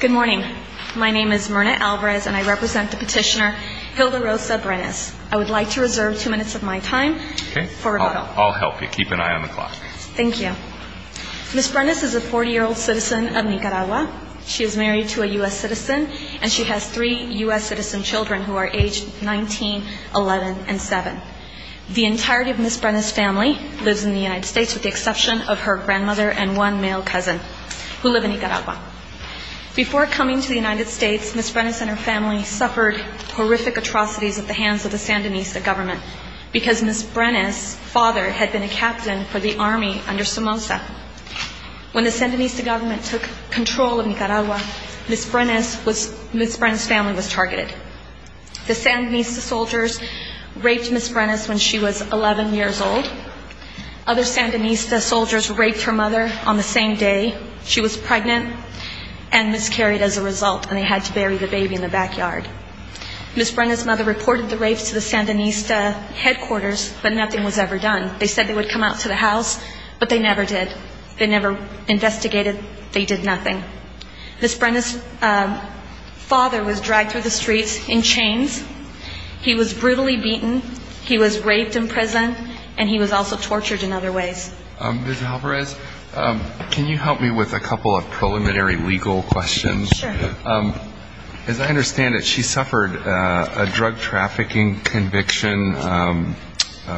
Good morning. My name is Myrna Alvarez and I represent the petitioner Hilda Rosa Brenes. I would like to reserve two minutes of my time for rebuttal. I'll help you. Keep an eye on the clock. Thank you. Ms. Brenes is a 40-year-old citizen of Nicaragua. She is married to a U.S. citizen and she has three U.S. citizen children who are aged 19, 11, and 7. The entirety of Ms. Brenes' family lives in the United States with the exception of her grandmother and one male cousin who live in Nicaragua. Before coming to the United States, Ms. Brenes and her family suffered horrific atrocities at the hands of the Sandinista government because Ms. Brenes' father had been a captain for the army under Somoza. When the Sandinista government took control of Nicaragua, Ms. Brenes' family was targeted. The Sandinista soldiers raped Ms. Brenes when she was 11 years old. Other Sandinista soldiers raped her mother on the same day she was pregnant and miscarried as a result, and they had to bury the baby in the backyard. Ms. Brenes' mother reported the rapes to the Sandinista headquarters, but nothing was ever done. They said they would come out to the house, but they never did. They never investigated. They did nothing. Ms. Brenes' father was dragged through the streets in chains. He was brutally beaten. He was raped in prison, and he was also tortured in other ways. Ms. Alvarez, can you help me with a couple of preliminary legal questions? Sure. As I understand it, she suffered a drug trafficking conviction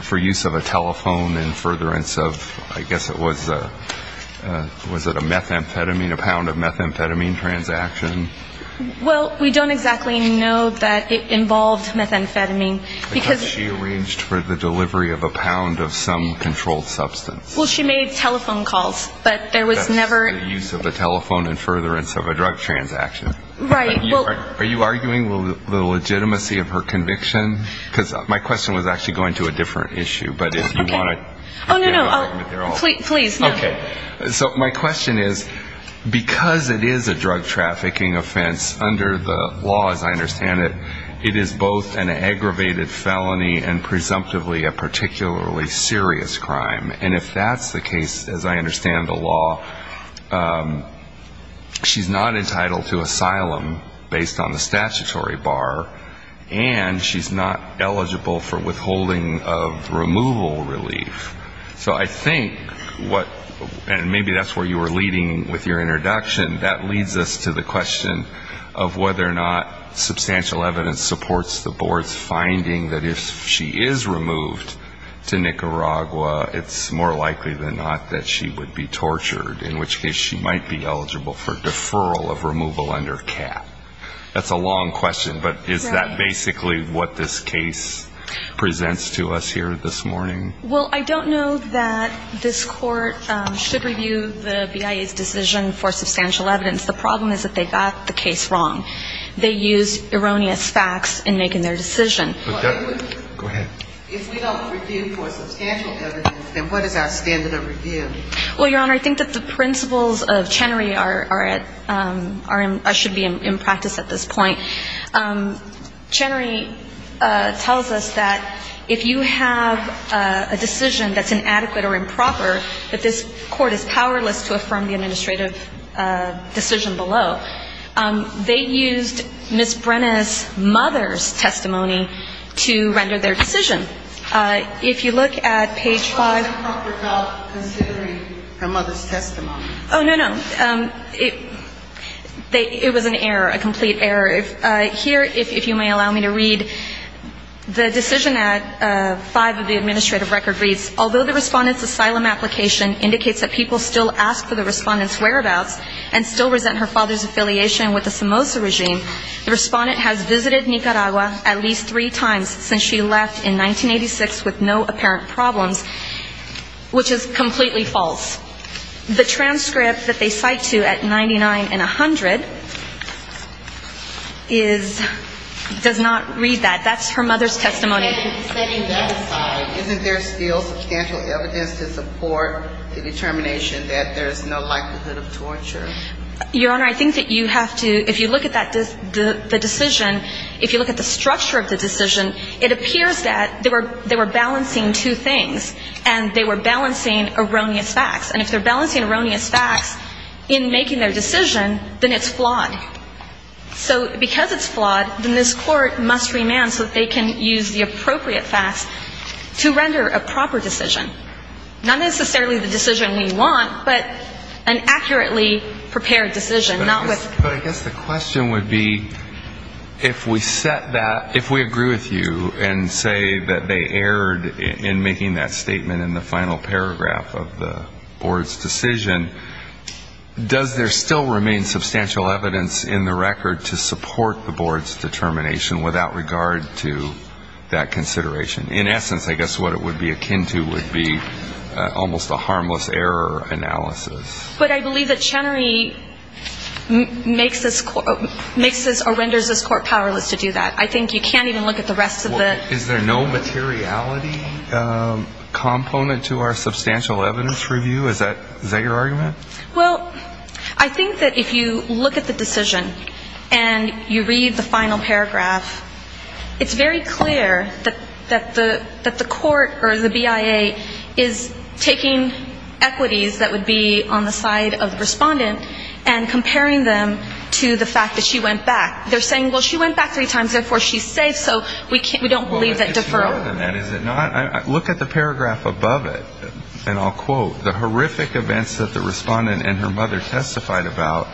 for use of a telephone in furtherance of, I guess it was a, was it a methamphetamine, a pound of methamphetamine transaction? Well, we don't exactly know that it involved methamphetamine, because – Because she arranged for the delivery of a pound of some controlled substance. Well, she made telephone calls, but there was never – That's the use of a telephone in furtherance of a drug transaction. Right, well – Are you arguing the legitimacy of her conviction? Because my question was actually going to a different issue, but if you want to – Oh, no, no, please, no. Okay. So my question is, because it is a drug trafficking offense under the law, as I understand it, it is both an aggravated felony and presumptively a particularly serious crime. And if that's the case, as I understand the law, she's not entitled to asylum based on the statutory bar, and she's not eligible for withholding of removal relief. So I think what – and maybe that's where you were leading with your introduction. That leads us to the question of whether or not substantial evidence supports the board's finding that if she is removed to Nicaragua, it's more likely than not that she would be tortured, in which case she might be eligible for deferral of removal under CAP. That's a long question, but is that basically what this case presents to us here this morning? Well, I don't know that this Court should review the BIA's decision for substantial evidence. The problem is that they got the case wrong. They used erroneous facts in making their decision. Go ahead. If we don't review for substantial evidence, then what is our standard of review? Well, Your Honor, I think that the principles of Chenery are at – should be in practice at this point. Chenery tells us that if you have a decision that's inadequate or improper, that this Court is powerless to affirm the administrative decision below. They used Ms. Brenna's mother's testimony to render their decision. If you look at page 5 – Which one is improper about considering her mother's testimony? Oh, no, no. It was an error, a complete error. Here, if you may allow me to read, the decision at 5 of the administrative record reads, although the Respondent's asylum application indicates that people still ask for the Respondent's whereabouts and still resent her father's affiliation with the Somoza regime, the Respondent has visited Nicaragua at least three times since she left in 1986 with no apparent problems, which is completely false. The transcript that they cite to at 99 and 100 is – does not read that. That's her mother's testimony. Setting that aside, isn't there still substantial evidence to support the determination that there's no likelihood of torture? Your Honor, I think that you have to – if you look at the decision, if you look at the structure of the decision, it appears that they were balancing two things, and they were balancing erroneous facts. And if they're balancing erroneous facts in making their decision, then it's flawed. So because it's flawed, then this Court must remand so that they can use the appropriate facts to render a proper decision, not necessarily the decision we want, but an accurately prepared decision, not with – But I guess the question would be, if we set that – if we agree with you and say that they erred in making that statement in the final paragraph of the Board's decision, does there still remain substantial evidence in the record to support the Board's determination without regard to that consideration? In essence, I guess what it would be akin to would be almost a harmless error analysis. But I believe that Chenery makes this – renders this Court powerless to do that. I think you can't even look at the rest of the – Is there no materiality component to our substantial evidence review? Is that your argument? Well, I think that if you look at the decision and you read the final paragraph, it's very clear that the Court or the BIA is taking equities that would be on the side of the respondent and comparing them to the fact that she went back. They're saying, well, she went back three times, therefore she's safe, so we don't believe that deferral. Look at the paragraph above it, and I'll quote, the horrific events that the respondent and her mother testified about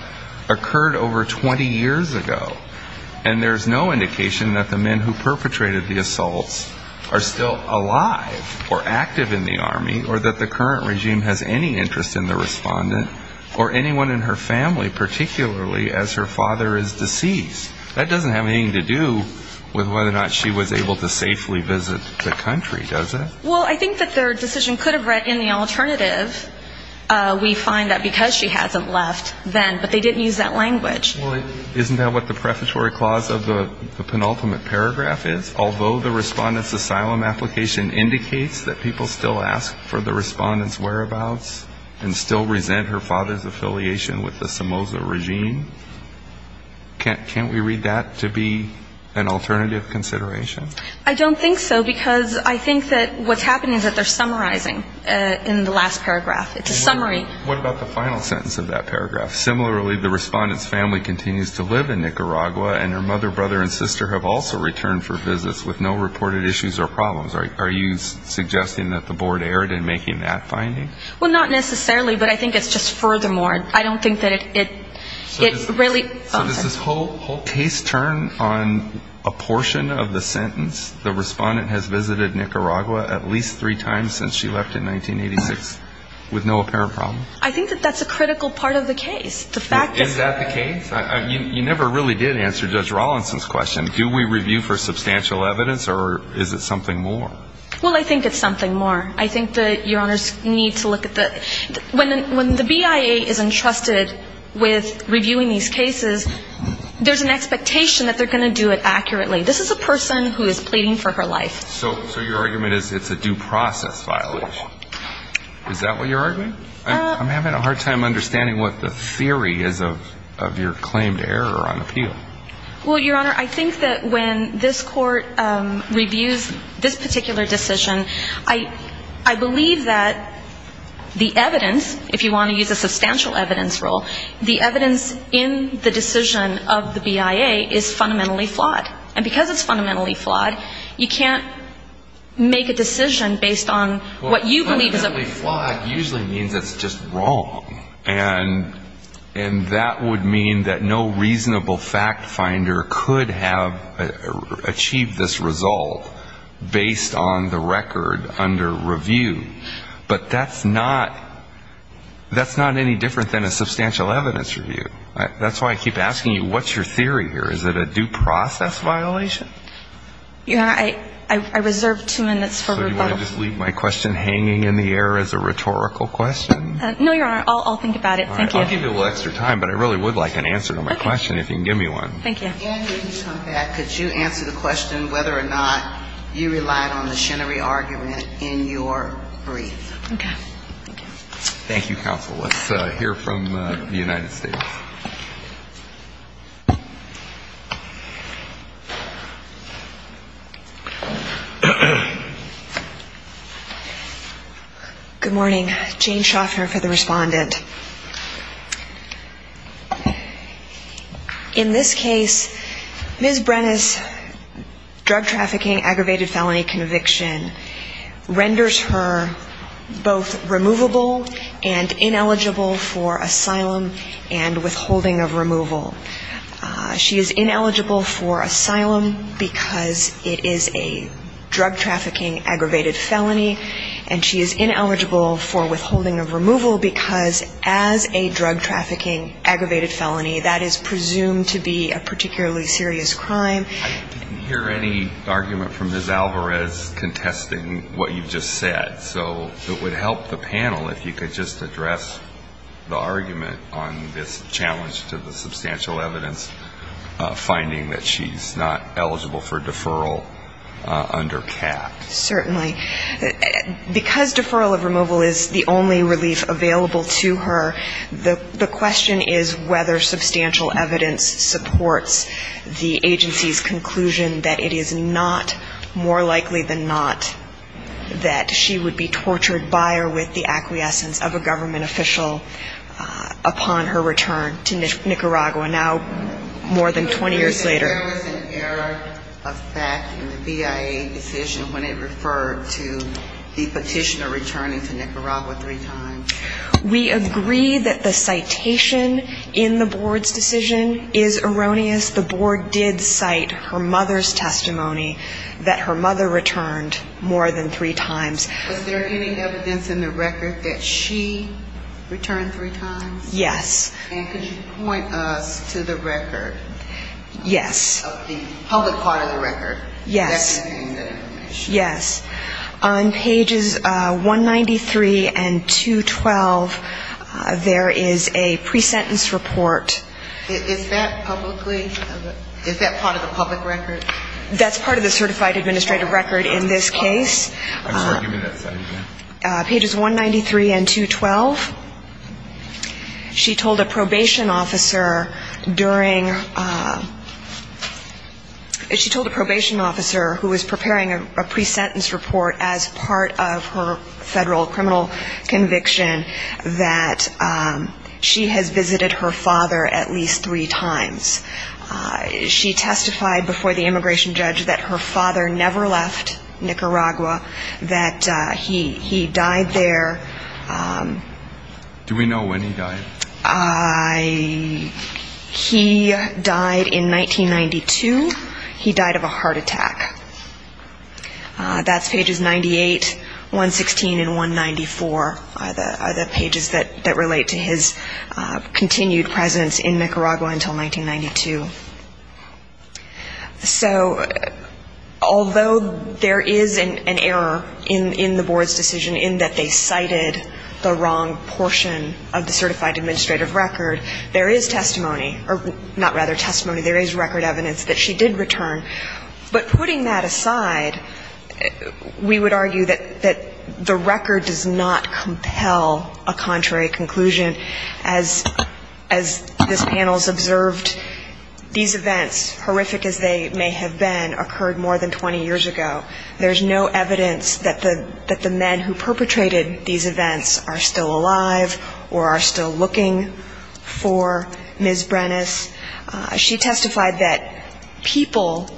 occurred over 20 years ago, and there's no indication that the men who perpetrated the assaults are still alive or active in the Army or that the current regime has any interest in the respondent or anyone in her family, particularly as her father is deceased. That doesn't have anything to do with whether or not she was able to safely visit the country, does it? Well, I think that their decision could have read, in the alternative, we find that because she hasn't left then, but they didn't use that language. Well, isn't that what the prefatory clause of the penultimate paragraph is? Although the respondent's asylum application indicates that people still ask for the respondent's whereabouts and still resent her father's affiliation with the Somoza regime. Can't we read that to be an alternative consideration? I don't think so, because I think that what's happening is that they're summarizing in the last paragraph. It's a summary. What about the final sentence of that paragraph? Similarly, the respondent's family continues to live in Nicaragua, and her mother, brother, and sister have also returned for visits with no reported issues or problems. Are you suggesting that the board erred in making that finding? Well, not necessarily, but I think it's just furthermore. I don't think that it really – So does this whole case turn on a portion of the sentence? The respondent has visited Nicaragua at least three times since she left in 1986 with no apparent problems? I think that that's a critical part of the case. Is that the case? You never really did answer Judge Rawlinson's question. Do we review for substantial evidence, or is it something more? Well, I think it's something more. I think that Your Honors need to look at the – when the BIA is entrusted with reviewing these cases, there's an expectation that they're going to do it accurately. This is a person who is pleading for her life. So your argument is it's a due process violation? Is that what you're arguing? I'm having a hard time understanding what the theory is of your claim to error on appeal. Well, Your Honor, I think that when this Court reviews this particular decision, I believe that the evidence, if you want to use a substantial evidence rule, the evidence in the decision of the BIA is fundamentally flawed. And because it's fundamentally flawed, you can't make a decision based on what you believe is a – Well, fundamentally flawed usually means it's just wrong. And that would mean that no reasonable fact finder could have achieved this result based on the record under review. But that's not – that's not any different than a substantial evidence review. That's why I keep asking you, what's your theory here? Is it a due process violation? Your Honor, I reserve two minutes for rebuttal. So you want to just leave my question hanging in the air as a rhetorical question? No, Your Honor. I'll think about it. Thank you. I'll give you a little extra time, but I really would like an answer to my question if you can give me one. Thank you. And when you come back, could you answer the question whether or not you relied on the Chenery argument in your brief? Okay. Thank you. Thank you, counsel. Let's hear from the United States. Good morning. Jane Shoffner for the respondent. In this case, Ms. Brenes' drug trafficking aggravated felony conviction renders her both removable and ineligible for asylum and withholding of removal. She is ineligible for asylum because it is a drug trafficking aggravated felony, and she is ineligible for withholding of removal because as a drug trafficking aggravated felony, that is presumed to be a particularly serious crime. I didn't hear any argument from Ms. Alvarez contesting what you just said. So it would help the panel if you could just address the argument on this challenge to the substantial evidence, finding that she's not eligible for deferral under CAP. Certainly. Because deferral of removal is the only relief available to her, the question is whether substantial evidence supports the agency's conclusion that it is not more likely than not that she would be tortured by or with the acquiescence of a government official upon her return to Nicaragua, now more than 20 years later. There was an error of fact in the BIA decision when it referred to the petitioner returning to Nicaragua three times. We agree that the citation in the board's decision is erroneous. The board did cite her mother's testimony that her mother returned more than three times. Was there any evidence in the record that she returned three times? Yes. And could you point us to the record? Yes. Of the public part of the record. Yes. That contained that information. Yes. On pages 193 and 212, there is a pre-sentence report. Is that publicly? Is that part of the public record? That's part of the certified administrative record in this case. I'm sorry, give me that side again. Pages 193 and 212. She told a probation officer during, she told a probation officer who was preparing a pre-sentence report as part of her federal criminal conviction that she has visited her father at least three times. She testified before the immigration judge that her father never left Nicaragua, that he died there. Do we know when he died? He died in 1992. He died of a heart attack. That's pages 98, 116, and 194 are the pages that relate to his continued presence in Nicaragua until 1992. So although there is an error in the board's decision in that they cited the wrong portion of the certified administrative record, there is testimony, or not rather testimony, there is record evidence that she did return. But putting that aside, we would argue that the record does not compel a contrary conclusion. As this panel has observed, these events, horrific as they may have been, occurred more than 20 years ago. There is no evidence that the men who perpetrated these events are still alive or are still looking for Ms. Brenes. She testified that people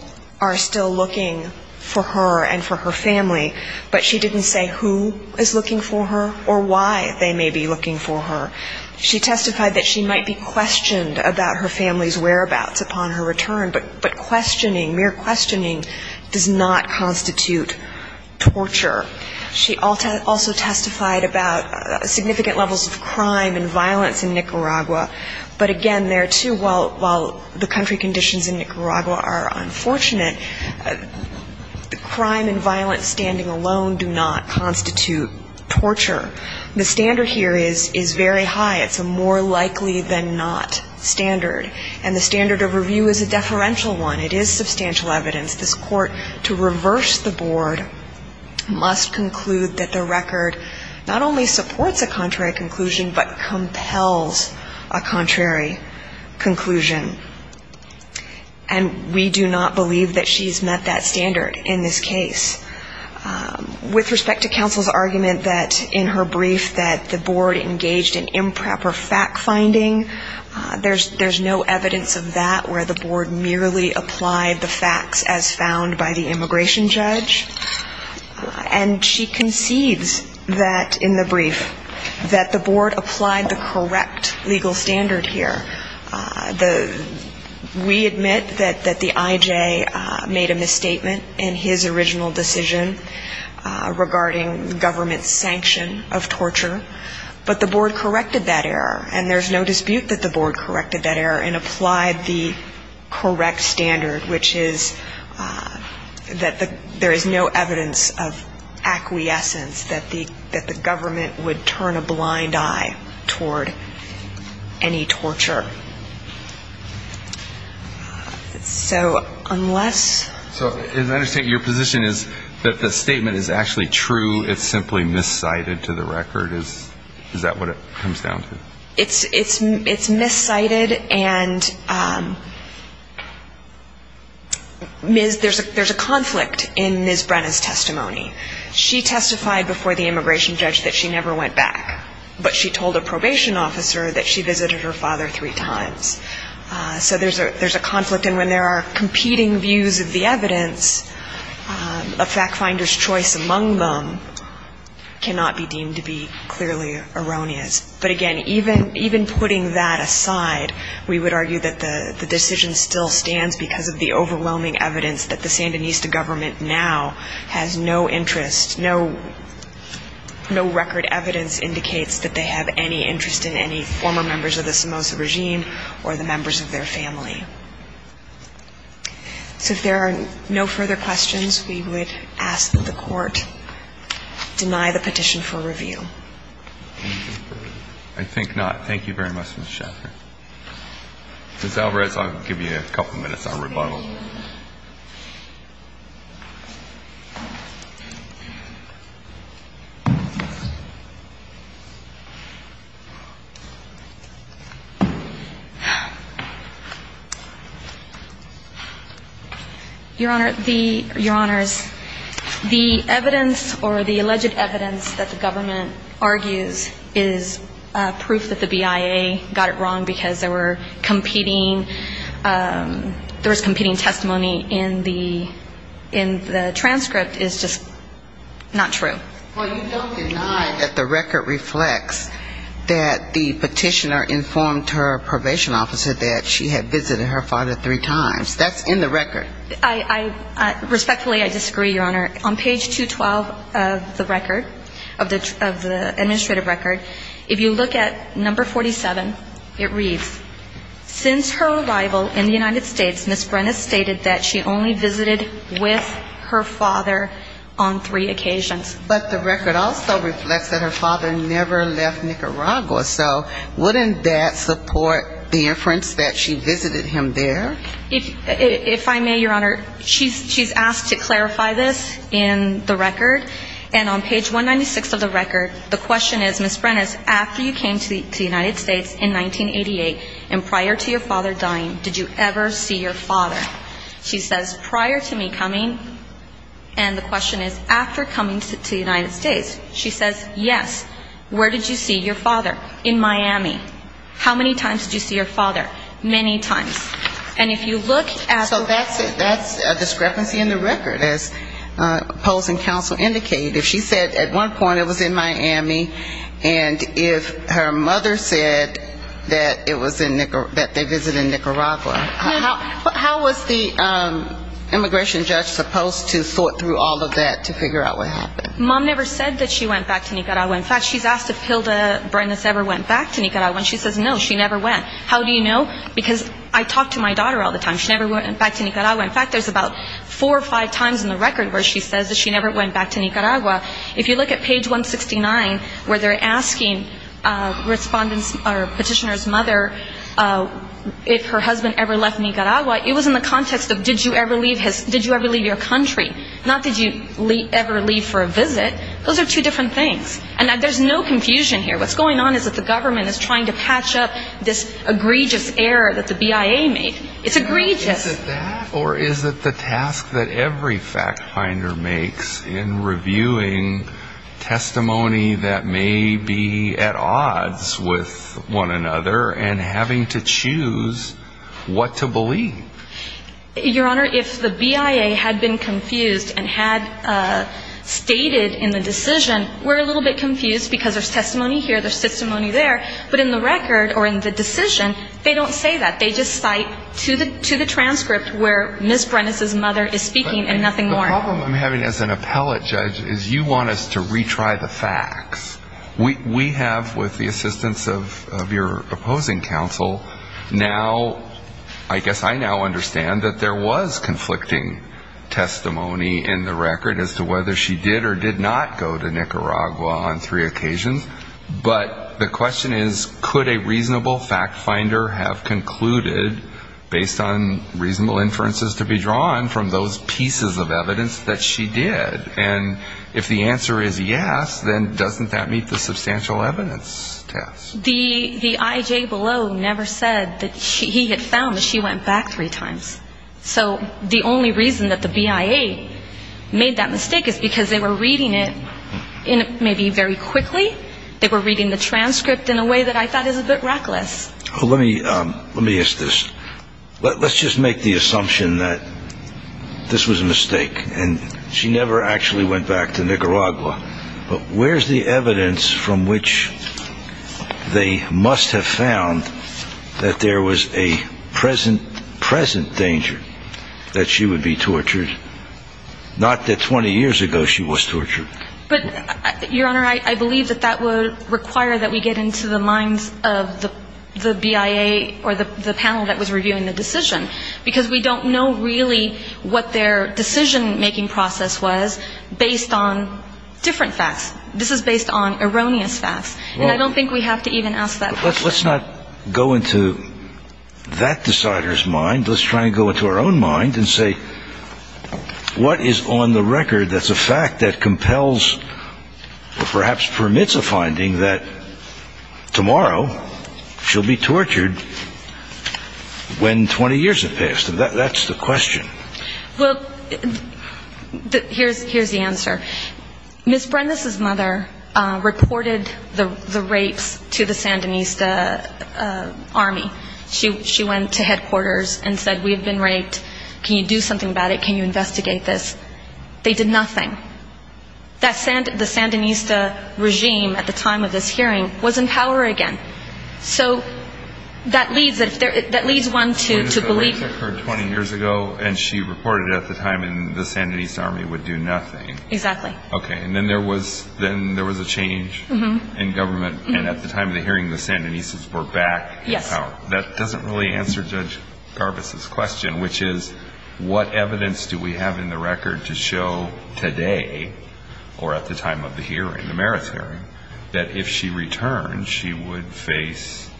are still looking for her and for her family, but she didn't say who is looking for her or why they may be looking for her. She testified that she might be questioned about her family's whereabouts upon her return, but questioning, mere questioning, does not constitute torture. She also testified about significant levels of crime and violence in Nicaragua, but again, there, too, while the country conditions in Nicaragua are unfortunate, crime and violence standing alone do not constitute torture. The standard here is very high. It's a more likely-than-not standard, and the standard of review is a deferential one. It is substantial evidence. This Court, to reverse the board, must conclude that the record not only supports a contrary conclusion but compels a contrary conclusion, and we do not believe that she's met that standard in this case. With respect to counsel's argument that in her brief that the board engaged in improper fact-finding, there's no evidence of that where the board merely applied the facts as found by the immigration judge, and she concedes that in the brief that the board applied the correct legal standard here. We admit that the I.J. made a misstatement in his original decision regarding government's sanction of torture, but the board corrected that error, and there's no dispute that the board corrected that error and applied the correct standard, which is that there is no evidence of acquiescence that the government would turn a blind eye toward any torture. So unless ---- So as I understand, your position is that the statement is actually true. It's simply miscited to the record. Is that what it comes down to? It's miscited, and there's a conflict in Ms. Brenna's testimony. She testified before the immigration judge that she never went back, but she told a probation officer that she visited her father three times. So there's a conflict, and when there are competing views of the evidence, a fact-finder's choice among them cannot be deemed to be clearly erroneous. But again, even putting that aside, we would argue that the decision still stands because of the overwhelming evidence that the Sandinista government now has no interest, no record evidence indicates that they have any interest in any former members of the Somoza regime or the members of their family. So if there are no further questions, we would ask that the Court deny the petition for review. I think not. Thank you very much, Mr. Shaffer. Ms. Alvarez, I'll give you a couple minutes on rebuttal. Thank you. Your Honor, the ---- Your Honors, the evidence or the alleged evidence that the government argues is proof that the BIA got it wrong because there were competing ---- there was competing testimony in the transcript is just not true. Well, you don't deny that the record reflects that the petitioner informed her probation officer that she had visited her father three times. That's in the record. I respectfully, I disagree, Your Honor. On page 212 of the record, of the administrative record, if you look at number 47, it reads, since her arrival in the United States, Ms. Brenna stated that she only visited with her father on three occasions. But the record also reflects that her father never left Nicaragua. So wouldn't that support the inference that she visited him there? If I may, Your Honor, she's asked to clarify this. In the record, and on page 196 of the record, the question is, Ms. Brenna, after you came to the United States in 1988 and prior to your father dying, did you ever see your father? She says, prior to me coming, and the question is, after coming to the United States. She says, yes. Where did you see your father? In Miami. How many times did you see your father? Many times. And if you look at the ---- if she said at one point it was in Miami, and if her mother said that it was in Nicaragua, that they visited Nicaragua, how was the immigration judge supposed to sort through all of that to figure out what happened? Mom never said that she went back to Nicaragua. In fact, she's asked if Hilda Brenna ever went back to Nicaragua. And she says, no, she never went. How do you know? Because I talk to my daughter all the time. She never went back to Nicaragua. In fact, there's about four or five times in the record where she says that she never went back to Nicaragua. If you look at page 169 where they're asking respondents or petitioner's mother if her husband ever left Nicaragua, it was in the context of did you ever leave your country, not did you ever leave for a visit. Those are two different things. And there's no confusion here. What's going on is that the government is trying to patch up this egregious error that the BIA made. It's egregious. Is it that or is it the task that every fact finder makes in reviewing testimony that may be at odds with one another and having to choose what to believe? Your Honor, if the BIA had been confused and had stated in the decision, we're a little bit confused because there's testimony here, there's testimony there. But in the record or in the decision, they don't say that. They just cite to the transcript where Ms. Brenes' mother is speaking and nothing more. The problem I'm having as an appellate judge is you want us to retry the facts. We have with the assistance of your opposing counsel now, I guess I now understand, that there was conflicting testimony in the record as to whether she did or did not go to Nicaragua on three occasions. But the question is could a reasonable fact finder have concluded based on reasonable inferences to be drawn from those pieces of evidence that she did? And if the answer is yes, then doesn't that meet the substantial evidence test? The IJ below never said that he had found that she went back three times. So the only reason that the BIA made that mistake is because they were reading it maybe very quickly. They were reading the transcript in a way that I thought is a bit reckless. Let me ask this. Let's just make the assumption that this was a mistake and she never actually went back to Nicaragua. But where's the evidence from which they must have found that there was a present danger that she would be tortured, not that 20 years ago she was tortured? But, Your Honor, I believe that that would require that we get into the minds of the BIA or the panel that was reviewing the decision. Because we don't know really what their decision-making process was based on different facts. This is based on erroneous facts. And I don't think we have to even ask that question. Let's not go into that decider's mind. Let's try and go into our own mind and say what is on the record that's a fact that compels or perhaps permits a finding that tomorrow she'll be tortured when 20 years have passed? That's the question. Well, here's the answer. Ms. Brenda's mother reported the rapes to the Sandinista Army. She went to headquarters and said, we have been raped. Can you do something about it? Can you investigate this? They did nothing. The Sandinista regime at the time of this hearing was in power again. So that leads one to believe... The rapes occurred 20 years ago, and she reported at the time the Sandinista Army would do nothing. Exactly. Okay. And then there was a change in government, and at the time of the hearing the Sandinistas were back in power. Yes. That doesn't really answer Judge Garbus' question, which is what evidence do we have in the record to show today, or at the time of the hearing, the merits hearing, that if she returned she would face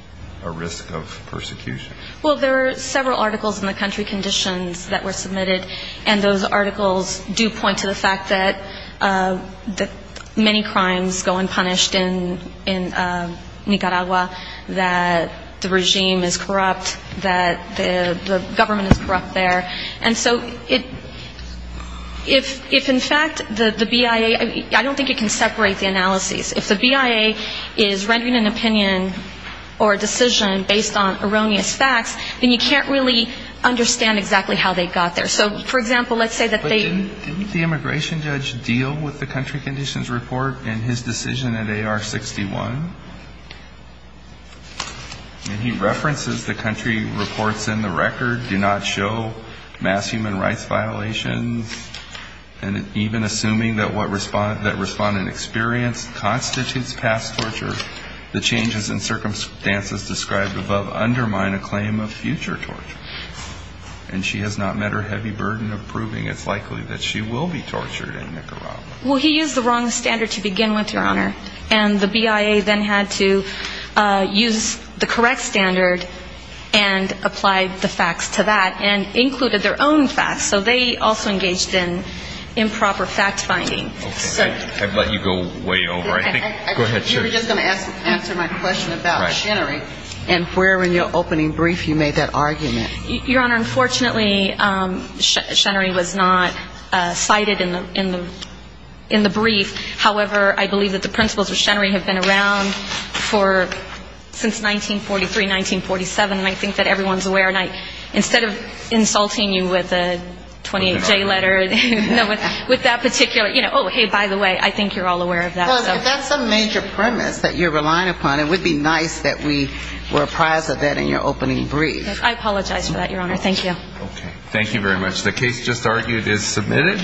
a risk of persecution? Well, there are several articles in the country conditions that were submitted, and those articles do point to the fact that many crimes go unpunished in Nicaragua, that the regime is corrupt, that the government is corrupt there. And so if in fact the BIA, I don't think it can separate the analyses. If the BIA is rendering an opinion or a decision based on erroneous facts, then you can't really understand exactly how they got there. So, for example, let's say that they... And he references the country reports in the record, do not show mass human rights violations, and even assuming that what respondent experienced constitutes past torture, the changes in circumstances described above undermine a claim of future torture. And she has not met her heavy burden of proving it's likely that she will be tortured in Nicaragua. Well, he used the wrong standard to begin with, Your Honor. And the BIA then had to use the correct standard and apply the facts to that, and included their own facts. So they also engaged in improper fact-finding. I've let you go way over. You were just going to answer my question about Chenery. And where in your opening brief you made that argument? Your Honor, unfortunately, Chenery was not cited in the brief. However, I believe that the principles of Chenery have been around since 1943, 1947. And I think that everyone's aware. And instead of insulting you with a 28-J letter, with that particular, you know, oh, hey, by the way, I think you're all aware of that. Well, if that's a major premise that you're relying upon, it would be nice that we were apprised of that in your opening brief. I apologize for that, Your Honor. Thank you. Okay. Thank you very much. The case just argued is submitted.